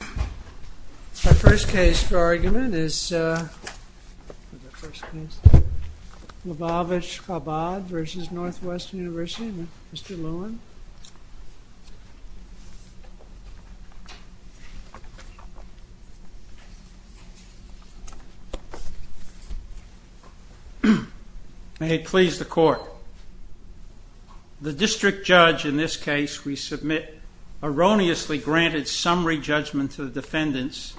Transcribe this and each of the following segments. Our first case for argument is Lavavitch-Chabad v. Northwestern University. Mr. Lewin. May it please the court. The district judge in this case we submit erroneously granted summary judgment to the defendants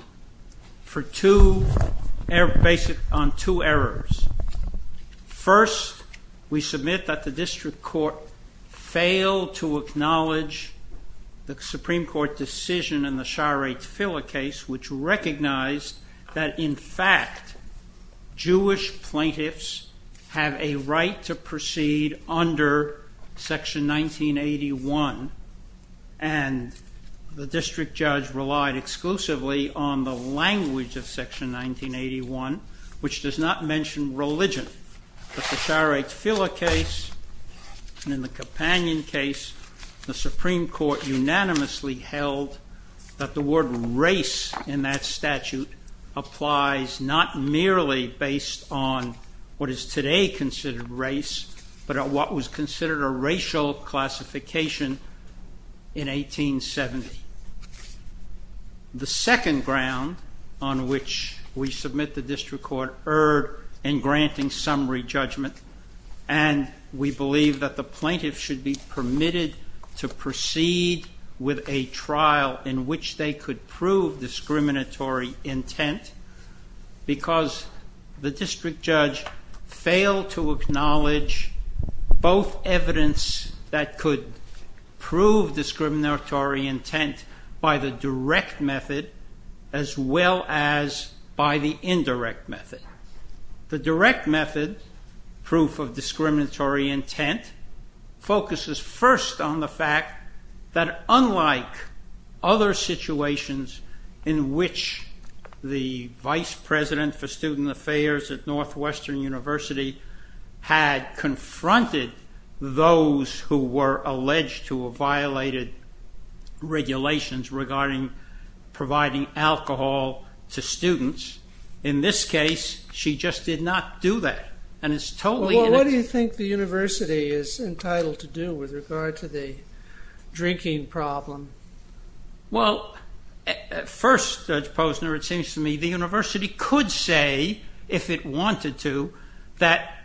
on two errors. First, we submit that the district court failed to acknowledge the Supreme Court decision in the Shahr-e-Tefillah case which recognized that in fact Jewish plaintiffs have a right to proceed under section 1981 and the district judge relied exclusively on the language of section 1981, which does not mention religion. In the Shahr-e-Tefillah case and in the Companion case, the Supreme Court unanimously held that the word race in that statute applies not merely based on what is today considered race, but what was considered a racial classification in 1870. The second ground on which we submit the district court erred in granting summary judgment and we believe that the plaintiffs should be permitted to proceed with a trial in which they could prove discriminatory intent because the district judge failed to acknowledge both evidence that could prove discriminatory intent by the direct method as well as by the indirect method. The direct method, proof of discriminatory intent, focuses first on the fact that unlike other situations in which the vice president for student affairs at Northwestern University had confronted those who were alleged to have violated regulations regarding providing alcohol to students, in this case she just did not do that. What do you think the university is entitled to do with regard to the drinking problem? Well, first Judge Posner, it seems to me the university could say, if it wanted to, that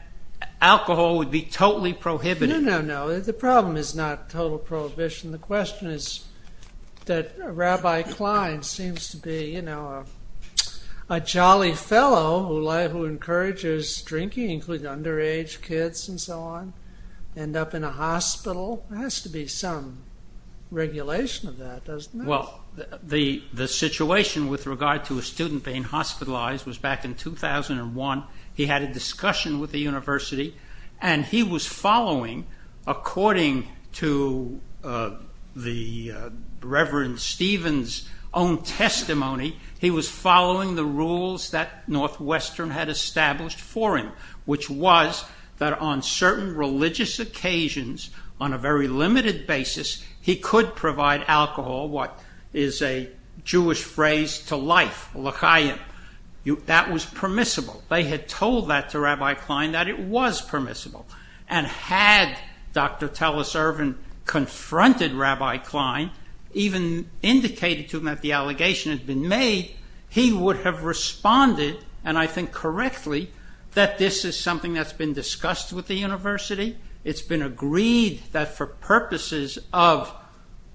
alcohol would be totally prohibited. No, no, no. The problem is not total prohibition. The question is that Rabbi Klein seems to be a jolly fellow who encourages drinking, including underage kids and so on, end up in a hospital. There has to be some regulation of that, doesn't there? Well, the situation with regard to a student being hospitalized was back in 2001. He had a discussion with the university and he was following, according to the Reverend Stephen's own testimony, he was following the rules that Northwestern had established for him, which was that on certain religious occasions, on a very limited basis, he could provide alcohol, what is a Jewish phrase, to life. That was permissible. They had told that to Rabbi Klein that it was permissible. And had Dr. Telus Ervin confronted Rabbi Klein, even indicated to him that the allegation had been made, he would have responded, and I think correctly, that this is something that's been discussed with the university. It's been agreed that for purposes of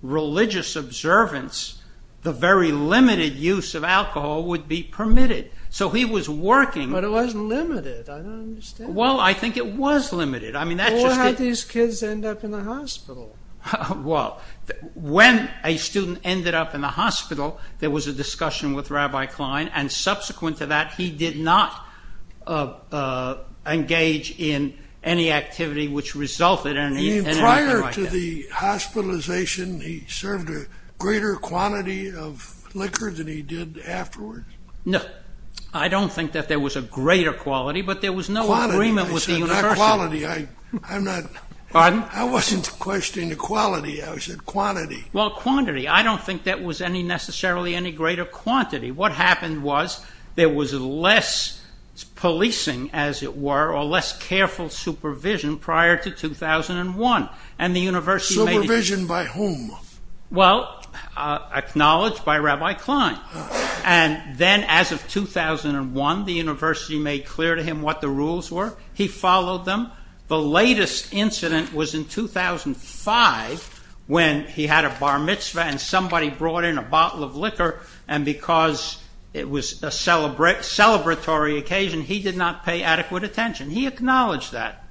religious observance, the very limited use of alcohol would be permitted. But it wasn't limited. I don't understand. Well, I think it was limited. Well, what had these kids end up in the hospital? Well, when a student ended up in the hospital, there was a discussion with Rabbi Klein, and subsequent to that, he did not engage in any activity which resulted in anything like that. You mean prior to the hospitalization, he served a greater quantity of liquor than he did afterwards? No. I don't think that there was a greater quality, but there was no agreement with the university. I said not quality. I wasn't questioning the quality. I said quantity. Well, quantity. I don't think that was necessarily any greater quantity. What happened was there was less policing, as it were, or less careful supervision prior to 2001. Supervision by whom? Well, acknowledged by Rabbi Klein. And then as of 2001, the university made clear to him what the rules were. He followed them. The latest incident was in 2005 when he had a bar mitzvah and somebody brought in a bottle of liquor, and because it was a celebratory occasion, he did not pay adequate attention. He acknowledged that.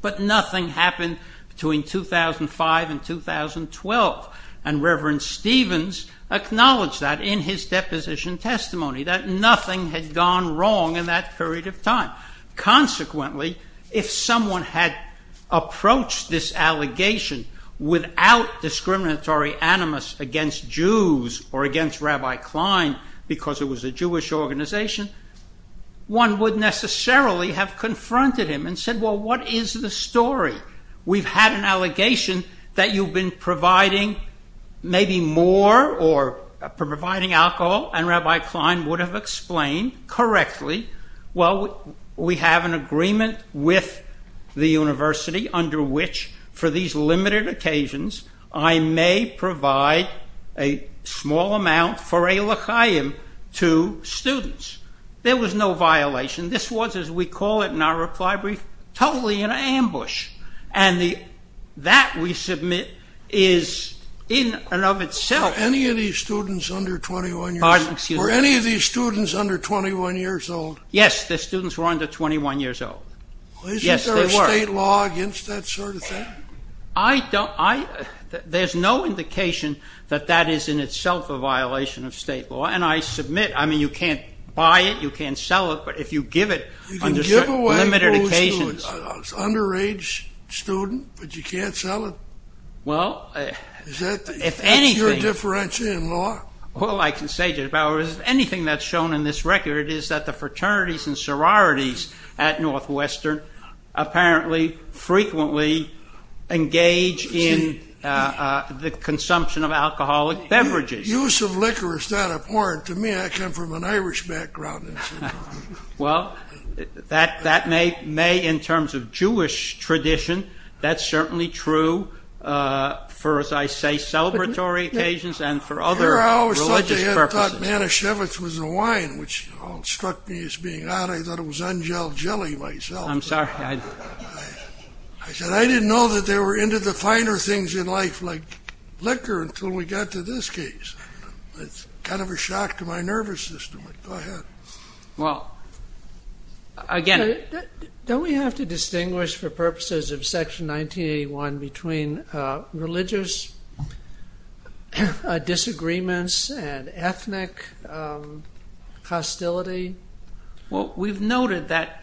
But nothing happened between 2005 and 2012, and Reverend Stevens acknowledged that in his deposition testimony, that nothing had gone wrong in that period of time. Well, what is the story? We've had an allegation that you've been providing maybe more or providing alcohol, and Rabbi Klein would have explained correctly, well, we have an agreement with the university under which, for these limited occasions, I may provide a small amount for a l'chaim to students. There was no violation. This was, as we call it in our reply brief, totally an ambush, and that, we submit, is in and of itself... Were any of these students under 21 years old? Yes, the students were under 21 years old. Isn't there a state law against that sort of thing? There's no indication that that is in itself a violation of state law, and I submit, I mean, you can't buy it, you can't sell it, but if you give it... You can give away booze to an underage student, but you can't sell it? Well, if anything... What's your difference in law? Anything that's shown in this record is that the fraternities and sororities at Northwestern apparently frequently engage in the consumption of alcoholic beverages. Use of liquor is not abhorrent to me. I come from an Irish background. Well, that may in terms of Jewish tradition, that's certainly true for, as I say, celebratory occasions and for other... I remember I always thought they had thought Manischewitz was a wine, which struck me as being odd, I thought it was ungelled jelly myself. I'm sorry, I... I said I didn't know that they were into the finer things in life like liquor until we got to this case. It's kind of a shock to my nervous system, but go ahead. Well, again... Don't we have to distinguish for purposes of Section 1981 between religious disagreements and ethnic hostility? Well, we've noted that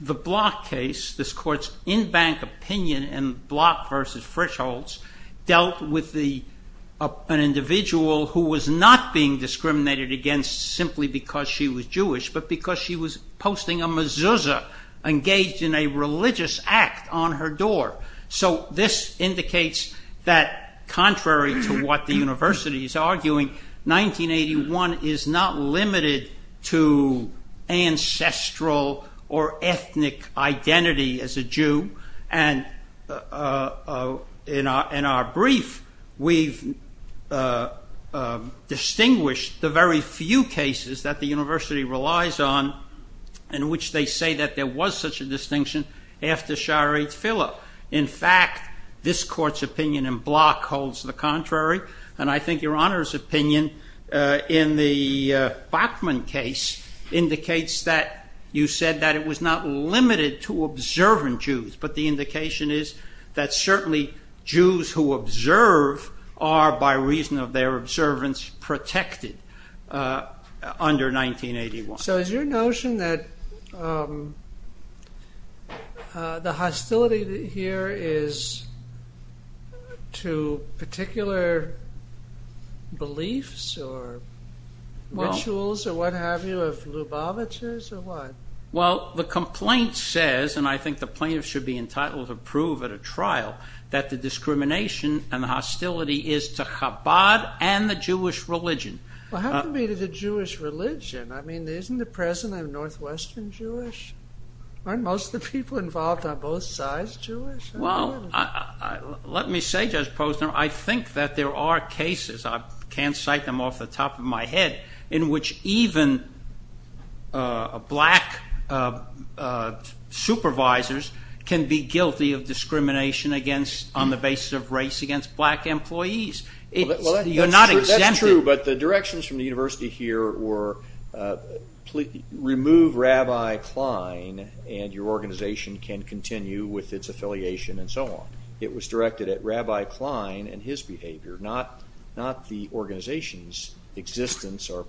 the Block case, this court's in-bank opinion in Block v. Frischholz, dealt with an individual who was not being discriminated against simply because she was Jewish, but because she was posting a mezuzah engaged in a religious act on her door. So this indicates that contrary to what the university is arguing, 1981 is not limited to ancestral or ethnic identity as a Jew. And in our brief, we've distinguished the very few cases that the university relies on in which they say that there was such a distinction after Chariot Fillo. In fact, this court's opinion in Block holds the contrary, and I think Your Honor's opinion in the Bachmann case indicates that you said that it was not limited to observant Jews, but the indication is that certainly Jews who observe are, by reason of their observance, protected under 1981. So is your notion that the hostility here is to particular beliefs or rituals or what have you of Lubavitchers or what? Well, the complaint says, and I think the plaintiff should be entitled to prove at a trial, that the discrimination and the hostility is to Chabad and the Jewish religion. Well, how can it be to the Jewish religion? I mean, isn't the President of Northwestern Jewish? Aren't most of the people involved on both sides Jewish? Well, let me say, Judge Posner, I think that there are cases, I can't cite them off the top of my head, in which even black supervisors can be guilty of discrimination on the basis of race against black employees. Well, that's true, but the directions from the university here were, remove Rabbi Klein and your organization can continue with its affiliation and so on. It was directed at Rabbi Klein and his behavior, not the organization's existence or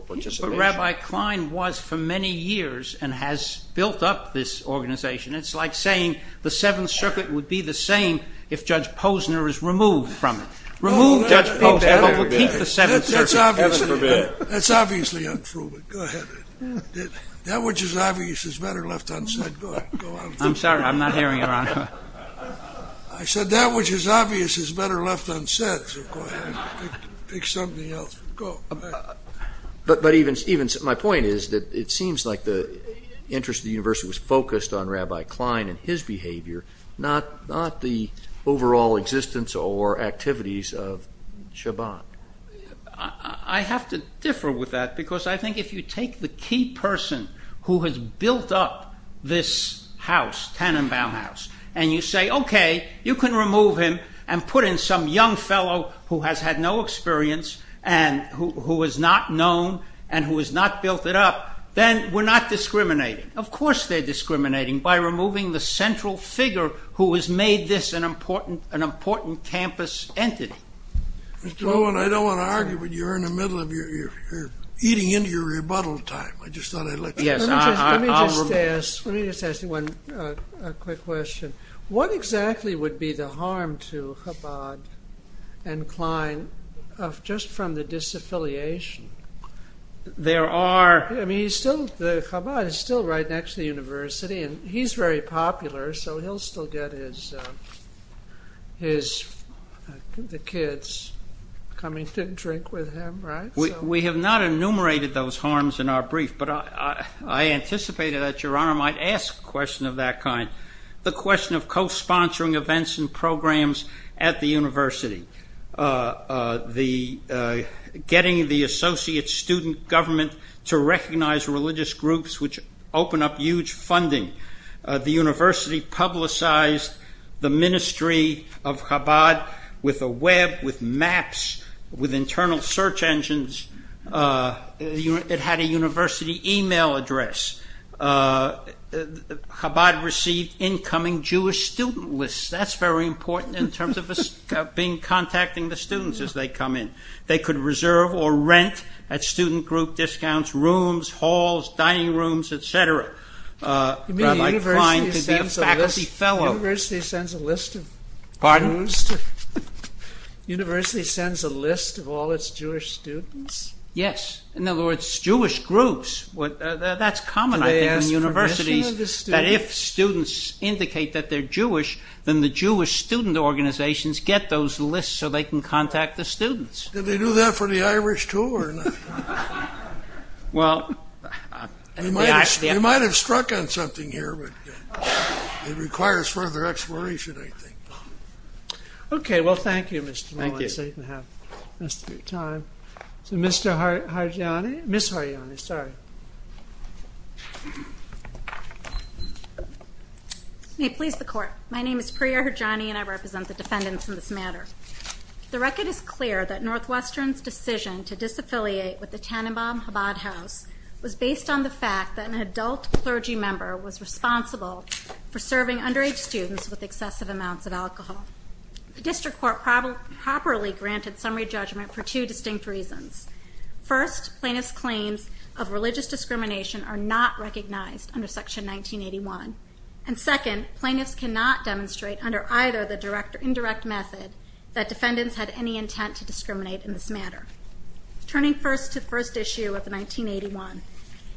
participation. That's what Rabbi Klein was for many years and has built up this organization. It's like saying the Seventh Circuit would be the same if Judge Posner is removed from it. Remove Judge Posner, but we'll keep the Seventh Circuit. That's obviously untrue, but go ahead. That which is obvious is better left unsaid. Go ahead. I'm sorry, I'm not hearing you, Your Honor. I said that which is obvious is better left unsaid, so go ahead. Pick something else. Go ahead. My point is that it seems like the interest of the university was focused on Rabbi Klein and his behavior, not the overall existence or activities of Shabbat. I have to differ with that because I think if you take the key person who has built up this house, Tannenbaum House, and you say, okay, you can remove him and put in some young fellow who has had no experience and who is not known and who has not built it up, then we're not discriminating. Of course, they're discriminating by removing the central figure who has made this an important campus entity. Mr. Owen, I don't want to argue, but you're eating into your rebuttal time. Let me just ask you a quick question. What exactly would be the harm to Chabad and Klein just from the disaffiliation? Chabad is still right next to the university and he's very popular, so he'll still get the kids coming to drink with him, right? We have not enumerated those harms in our brief, but I anticipated that Your Honor might ask a question of that kind. The question of co-sponsoring events and programs at the university, getting the associate student government to recognize religious groups which open up huge funding. The university publicized the ministry of Chabad with a web, with maps, with internal search engines. It had a university email address. Chabad received incoming Jewish student lists. That's very important in terms of contacting the students as they come in. They could reserve or rent at student group discounts rooms, halls, dining rooms, etc. Rabbi Klein could be a faculty fellow. The university sends a list of all its Jewish students? Yes. In other words, Jewish groups. That's common, I think, in universities. If students indicate that they're Jewish, then the Jewish student organizations get those lists so they can contact the students. Did they do that for the Irish, too? Well, they might have struck on something here, but it requires further exploration, I think. Okay, well, thank you, Mr. Mullen, so you can have the rest of your time. So, Ms. Harjani. May it please the Court. My name is Priya Harjani, and I represent the defendants in this matter. The record is clear that Northwestern's decision to disaffiliate with the Tannenbaum Chabad House was based on the fact that an adult clergy member was responsible for serving underage students with excessive amounts of alcohol. The District Court properly granted summary judgment for two distinct reasons. First, plaintiffs' claims of religious discrimination are not recognized under Section 1981. And second, plaintiffs cannot demonstrate under either the direct or indirect method that defendants had any intent to discriminate in this matter. Turning first to the first issue of 1981.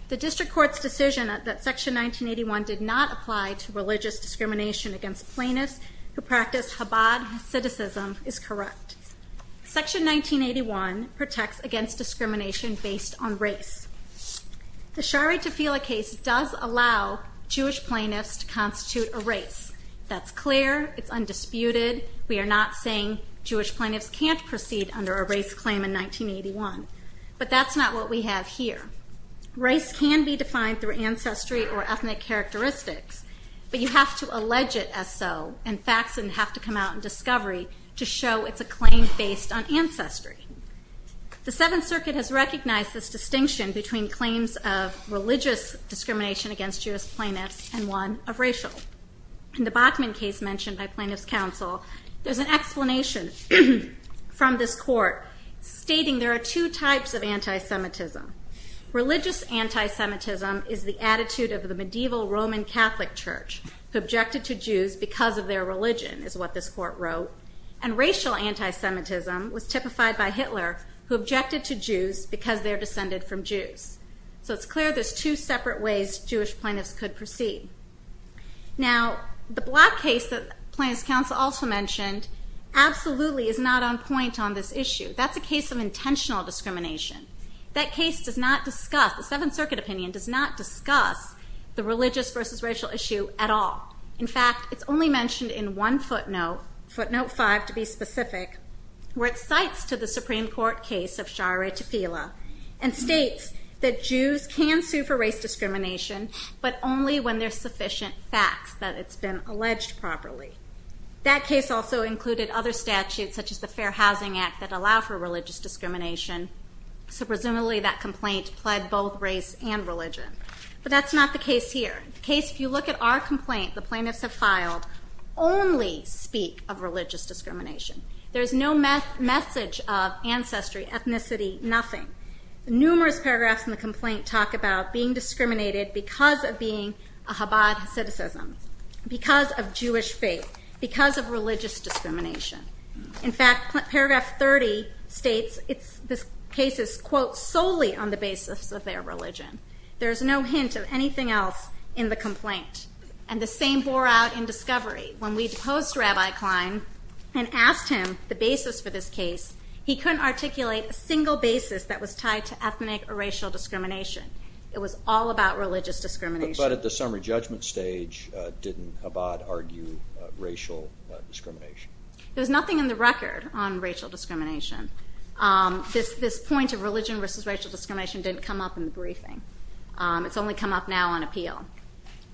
The District Court's decision that Section 1981 did not apply to religious discrimination against plaintiffs who practiced Chabad Hasidicism is correct. Section 1981 protects against discrimination based on race. The Shari Tofila case does allow Jewish plaintiffs to constitute a race. That's clear. It's undisputed. We are not saying Jewish plaintiffs can't proceed under a race claim in 1981. But that's not what we have here. Race can be defined through ancestry or ethnic characteristics, but you have to allege it as so, and facts have to come out in discovery to show it's a claim based on ancestry. The Seventh Circuit has recognized this distinction between claims of religious discrimination against Jewish plaintiffs and one of racial. In the Bachman case mentioned by plaintiffs' counsel, there's an explanation from this court stating there are two types of antisemitism. Religious antisemitism is the attitude of the medieval Roman Catholic Church, who objected to Jews because of their religion, is what this court wrote. And racial antisemitism was typified by Hitler, who objected to Jews because they're descended from Jews. So it's clear there's two separate ways Jewish plaintiffs could proceed. Now, the Block case that plaintiffs' counsel also mentioned absolutely is not on point on this issue. That's a case of intentional discrimination. That case does not discuss, the Seventh Circuit opinion does not discuss the religious versus racial issue at all. In fact, it's only mentioned in one footnote, footnote five to be specific, where it cites to the Supreme Court case of Shaare Tefila, and states that Jews can sue for race discrimination, but only when there's sufficient facts that it's been alleged properly. That case also included other statutes, such as the Fair Housing Act, that allow for religious discrimination. So presumably that complaint pled both race and religion. But that's not the case here. The case, if you look at our complaint, the plaintiffs have filed, only speak of religious discrimination. There's no message of ancestry, ethnicity, nothing. Numerous paragraphs in the complaint talk about being discriminated because of being a Chabad citizen, because of Jewish faith, because of religious discrimination. In fact, paragraph 30 states this case is, quote, solely on the basis of their religion. There's no hint of anything else in the complaint. And the same bore out in discovery. When we deposed Rabbi Klein and asked him the basis for this case, he couldn't articulate a single basis that was tied to ethnic or racial discrimination. It was all about religious discrimination. But at the summary judgment stage, didn't Chabad argue racial discrimination? There's nothing in the record on racial discrimination. This point of religion versus racial discrimination didn't come up in the briefing. It's only come up now on appeal.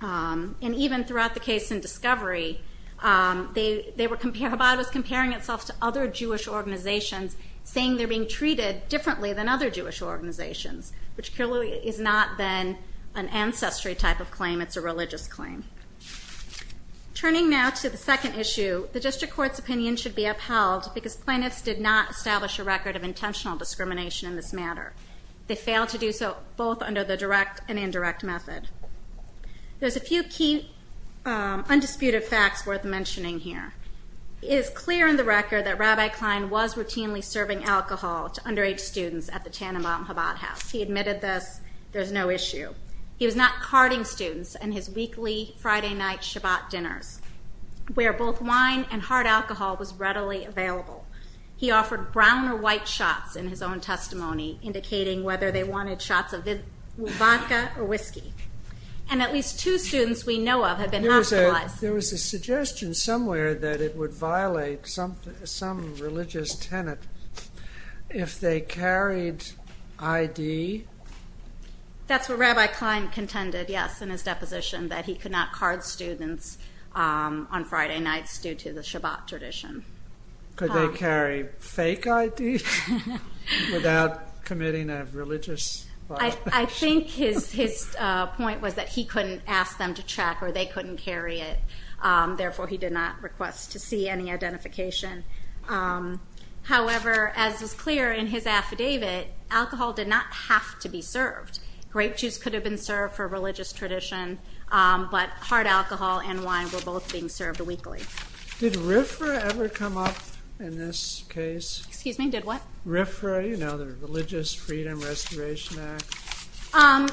And even throughout the case in discovery, Chabad was comparing itself to other Jewish organizations, saying they're being treated differently than other Jewish organizations, which clearly has not been an ancestry type of claim. It's a religious claim. Turning now to the second issue, the district court's opinion should be upheld because plaintiffs did not establish a record of intentional discrimination in this matter. They failed to do so both under the direct and indirect method. There's a few key undisputed facts worth mentioning here. It is clear in the record that Rabbi Klein was routinely serving alcohol to underage students at the Tananbaum Chabad house. He admitted this. There's no issue. He was not carding students in his weekly Friday night Chabad dinners, where both wine and hard alcohol was readily available. He offered brown or white shots in his own testimony, indicating whether they wanted shots of vodka or whiskey. And at least two students we know of have been hospitalized. There was a suggestion somewhere that it would violate some religious tenet if they carried ID. That's what Rabbi Klein contended, yes, in his deposition, that he could not card students on Friday nights due to the Chabad tradition. Could they carry fake ID without committing a religious violation? I think his point was that he couldn't ask them to check or they couldn't carry it. Therefore, he did not request to see any identification. However, as is clear in his affidavit, alcohol did not have to be served. Grape juice could have been served for a religious tradition, but hard alcohol and wine were both being served weekly. Did RFRA ever come up in this case? Excuse me, did what? RFRA, you know, the Religious Freedom Restoration Act.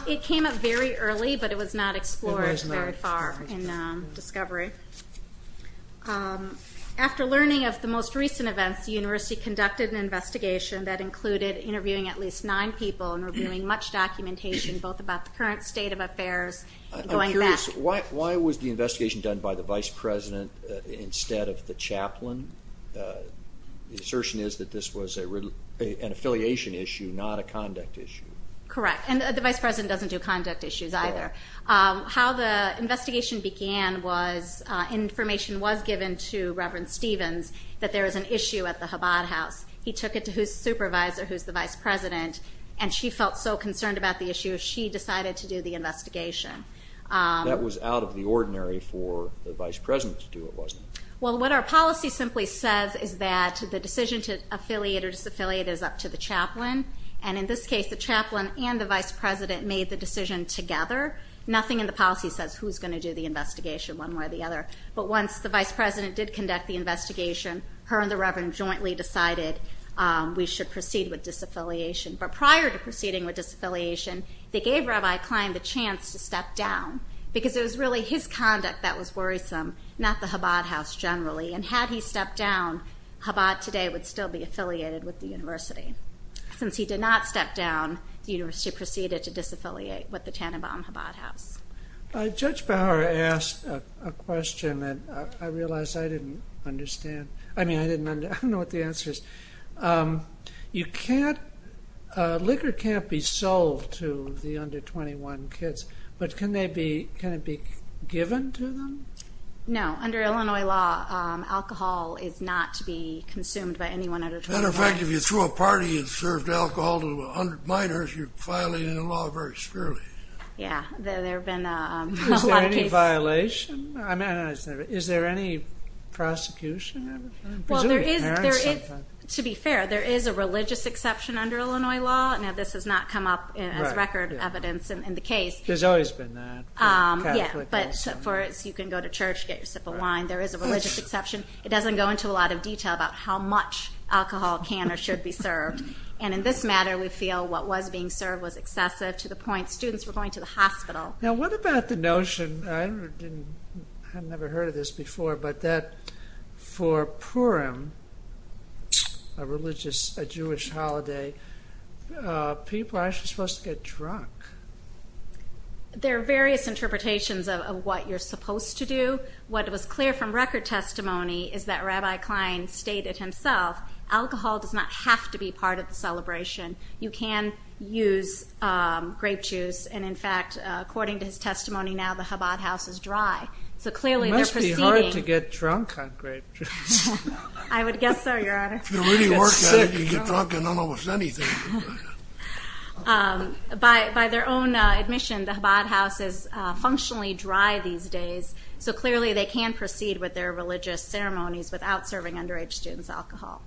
It came up very early, but it was not explored very far in discovery. After learning of the most recent events, the university conducted an investigation that included interviewing at least nine people and reviewing much documentation both about the current state of affairs and going back. I'm curious, why was the investigation done by the vice president instead of the chaplain? The assertion is that this was an affiliation issue, not a conduct issue. Correct, and the vice president doesn't do conduct issues either. How the investigation began was information was given to Reverend Stevens that there was an issue at the Chabad house. He took it to his supervisor, who's the vice president, and she felt so concerned about the issue she decided to do the investigation. That was out of the ordinary for the vice president to do it, wasn't it? Well, what our policy simply says is that the decision to affiliate or disaffiliate is up to the chaplain. And in this case, the chaplain and the vice president made the decision together. Nothing in the policy says who's going to do the investigation one way or the other. But once the vice president did conduct the investigation, her and the reverend jointly decided we should proceed with disaffiliation. But prior to proceeding with disaffiliation, they gave Rabbi Klein the chance to step down because it was really his conduct that was worrisome, not the Chabad house generally. And had he stepped down, Chabad today would still be affiliated with the university. Since he did not step down, the university proceeded to disaffiliate with the Tannenbaum Chabad house. Judge Bauer asked a question that I realize I didn't understand. I mean, I don't know what the answer is. Liquor can't be sold to the under 21 kids, but can it be given to them? No. Under Illinois law, alcohol is not to be consumed by anyone under 21. As a matter of fact, if you threw a party and served alcohol to 100 minors, you're violating the law very severely. Yeah, there have been a lot of cases. Is there any violation? Is there any prosecution? To be fair, there is a religious exception under Illinois law. Now, this has not come up as record evidence in the case. There's always been that. Yeah, but you can go to church, get your sip of wine. There is a religious exception. It doesn't go into a lot of detail about how much alcohol can or should be served. And in this matter, we feel what was being served was excessive to the point students were going to the hospital. Now, what about the notion, I've never heard of this before, but that for Purim, a Jewish holiday, people are actually supposed to get drunk. There are various interpretations of what you're supposed to do. What was clear from record testimony is that Rabbi Klein stated himself, alcohol does not have to be part of the celebration. You can use grape juice. And, in fact, according to his testimony, now the Chabad house is dry. It must be hard to get drunk on grape juice. I would guess so, Your Honor. If you really work hard, you can get drunk on almost anything. By their own admission, the Chabad house is functionally dry these days. So clearly they can proceed with their religious ceremonies without serving underage students alcohol.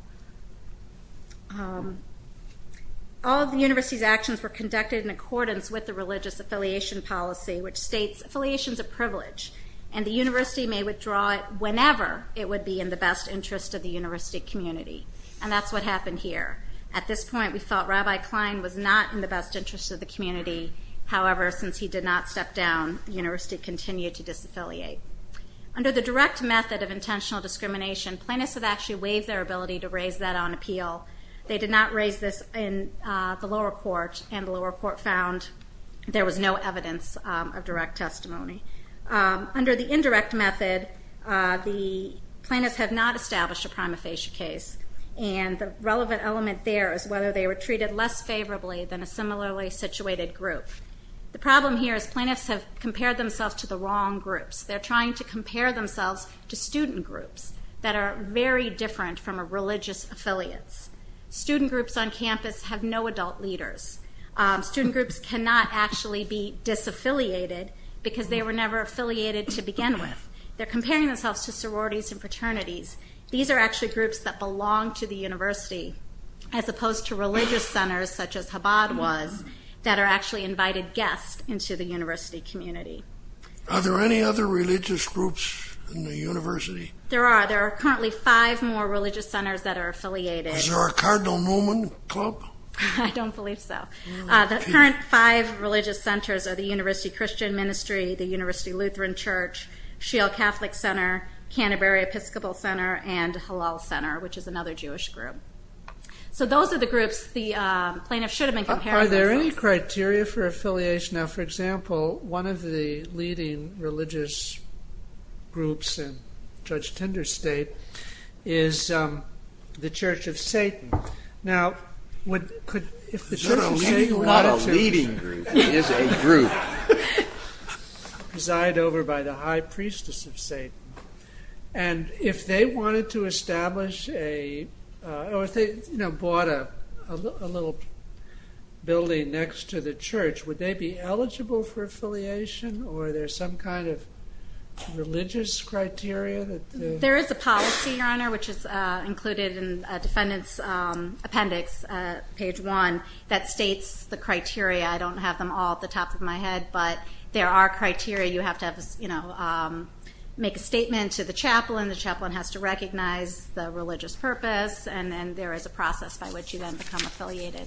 All of the university's actions were conducted in accordance with the religious affiliation policy, which states affiliation is a privilege, and the university may withdraw it whenever it would be in the best interest of the university community. And that's what happened here. At this point, we felt Rabbi Klein was not in the best interest of the community. However, since he did not step down, the university continued to disaffiliate. Under the direct method of intentional discrimination, plaintiffs have actually waived their ability to raise that on appeal. They did not raise this in the lower court, and the lower court found there was no evidence of direct testimony. Under the indirect method, the plaintiffs have not established a prima facie case, and the relevant element there is whether they were treated less favorably than a similarly situated group. The problem here is plaintiffs have compared themselves to the wrong groups. They're trying to compare themselves to student groups that are very different from religious affiliates. Student groups on campus have no adult leaders. Student groups cannot actually be disaffiliated because they were never affiliated to begin with. They're comparing themselves to sororities and fraternities. These are actually groups that belong to the university as opposed to religious centers such as Chabad was that are actually invited guests into the university community. Are there any other religious groups in the university? There are. There are currently five more religious centers that are affiliated. Is there a Cardinal Newman Club? I don't believe so. The current five religious centers are the University Christian Ministry, the University Lutheran Church, Sheol Catholic Center, Canterbury Episcopal Center, and Halal Center, which is another Jewish group. So those are the groups the plaintiffs should have been comparing themselves to. Are there any criteria for affiliation? Now, for example, one of the leading religious groups in Judge Tender's state is the Church of Satan. Now, if the Church of Satan wanted to reside over by the high priestess of Satan, and if they wanted to establish or if they bought a little building next to the church, would they be eligible for affiliation, or are there some kind of religious criteria? There is a policy, Your Honor, which is included in a defendant's appendix, page one, that states the criteria. I don't have them all at the top of my head, but there are criteria. You have to make a statement to the chaplain. The chaplain has to recognize the religious purpose, and then there is a process by which you then become affiliated.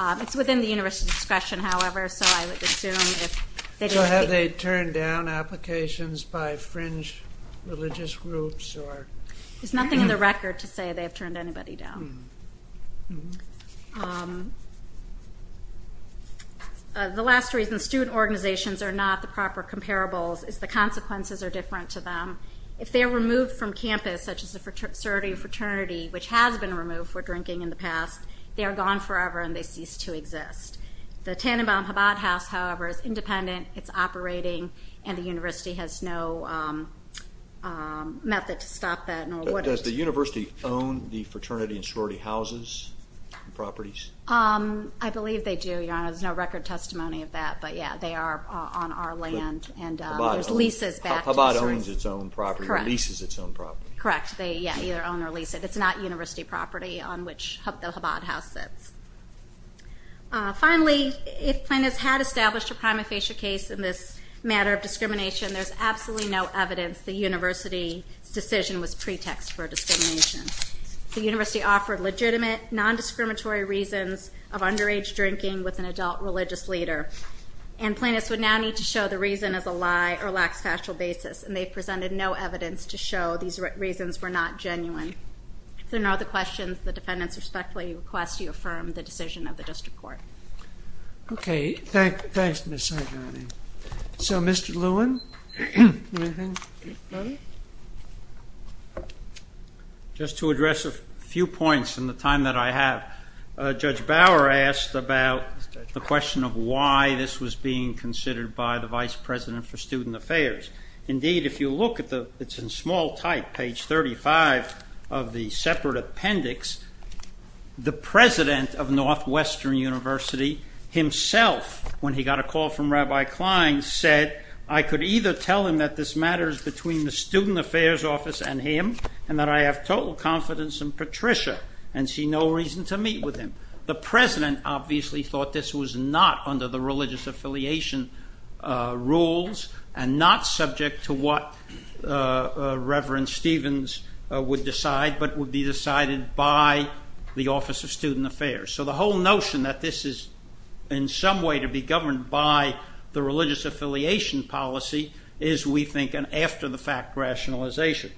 It's within the university's discretion, however, so I would assume if they didn't think— There's nothing in the record to say they have turned anybody down. The last reason student organizations are not the proper comparables is the consequences are different to them. If they are removed from campus, such as a fraternity which has been removed for drinking in the past, they are gone forever and they cease to exist. The Tannenbaum-Habad House, however, is independent. It's operating, and the university has no method to stop that. Does the university own the fraternity and sorority houses and properties? I believe they do, Your Honor. There's no record testimony of that, but, yeah, they are on our land, and there's leases back to us. Habad owns its own property or leases its own property. Correct. They either own or lease it. It's not university property on which the Habad House sits. Finally, if plaintiffs had established a prima facie case in this matter of discrimination, there's absolutely no evidence the university's decision was pretext for discrimination. The university offered legitimate, nondiscriminatory reasons of underage drinking with an adult religious leader, and plaintiffs would now need to show the reason as a lie or lax factual basis, and they presented no evidence to show these reasons were not genuine. If there are no other questions, the defendants respectfully request you affirm the decision of the district court. Okay. Thanks, Ms. Sargent. So, Mr. Lewin, do you have anything? Just to address a few points in the time that I have, Judge Bower asked about the question of why this was being considered by the vice president for student affairs. Indeed, if you look at the ñ it's in small type, page 35 of the separate appendix, the president of Northwestern University himself, when he got a call from Rabbi Klein, said, I could either tell him that this matter is between the student affairs office and him, and that I have total confidence in Patricia and see no reason to meet with him. The president obviously thought this was not under the religious affiliation rules and not subject to what Reverend Stevens would decide, but would be decided by the office of student affairs. So the whole notion that this is in some way to be governed by the religious affiliation policy is, we think, an after-the-fact rationalization.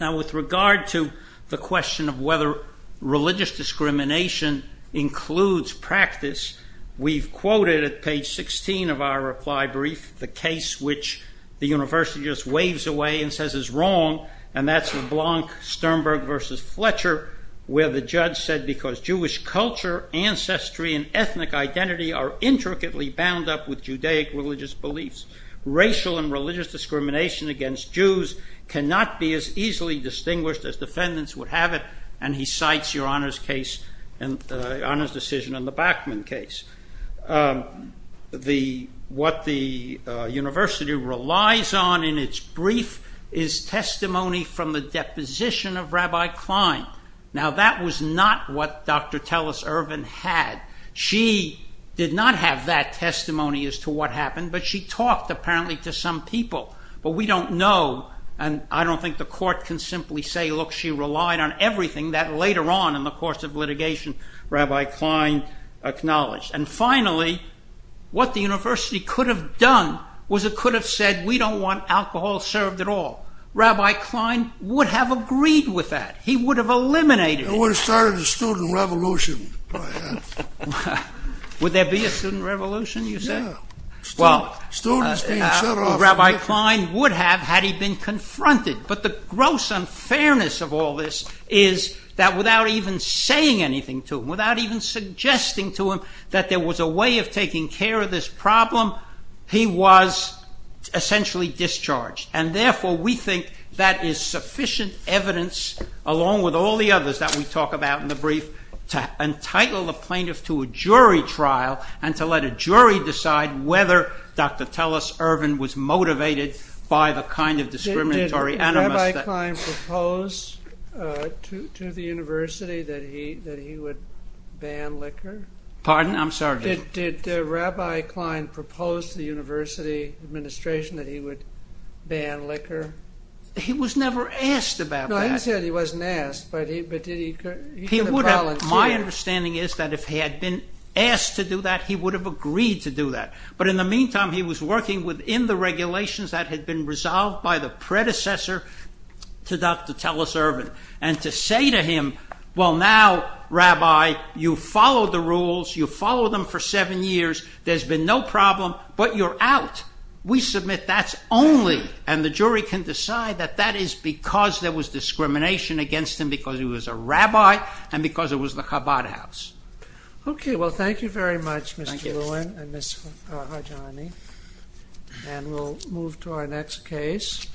Now, with regard to the question of whether religious discrimination includes practice, we've quoted at page 16 of our reply brief the case which the university just waves away and says is wrong, and that's LeBlanc-Sternberg v. Fletcher, where the judge said, because Jewish culture, ancestry, and ethnic identity are intricately bound up with Judaic religious beliefs, racial and religious discrimination against Jews cannot be as easily distinguished as defendants would have it, and he cites your Honor's decision in the Bachman case. What the university relies on in its brief is testimony from the deposition of Rabbi Klein. Now, that was not what Dr. Telus Irvin had. She did not have that testimony as to what happened, but she talked apparently to some people, but we don't know, and I don't think the court can simply say, look, she relied on everything that later on in the course of litigation Rabbi Klein acknowledged. And finally, what the university could have done was it could have said, we don't want alcohol served at all. Rabbi Klein would have agreed with that. He would have eliminated it. He would have started a student revolution. Would there be a student revolution, you said? Well, Rabbi Klein would have had he been confronted, but the gross unfairness of all this is that without even saying anything to him, without even suggesting to him that there was a way of taking care of this problem, he was essentially discharged. And therefore, we think that is sufficient evidence, along with all the others that we talk about in the brief, to entitle the plaintiff to a jury trial and to let a jury decide whether Dr. Telus Irvin was motivated by the kind of discriminatory animus. Did Rabbi Klein propose to the university that he would ban liquor? Pardon? I'm sorry. Did Rabbi Klein propose to the university administration that he would ban liquor? He was never asked about that. No, he said he wasn't asked, but did he? My understanding is that if he had been asked to do that, he would have agreed to do that. But in the meantime, he was working within the regulations that had been resolved by the predecessor to Dr. Telus Irvin. And to say to him, well, now, Rabbi, you follow the rules, you follow them for seven years, there's been no problem, but you're out. We submit that's only, and the jury can decide that that is because there was discrimination against him because he was a rabbi and because it was the Chabad house. Okay, well, thank you very much, Mr. Lewin and Ms. Hajani. And we'll move to our next case.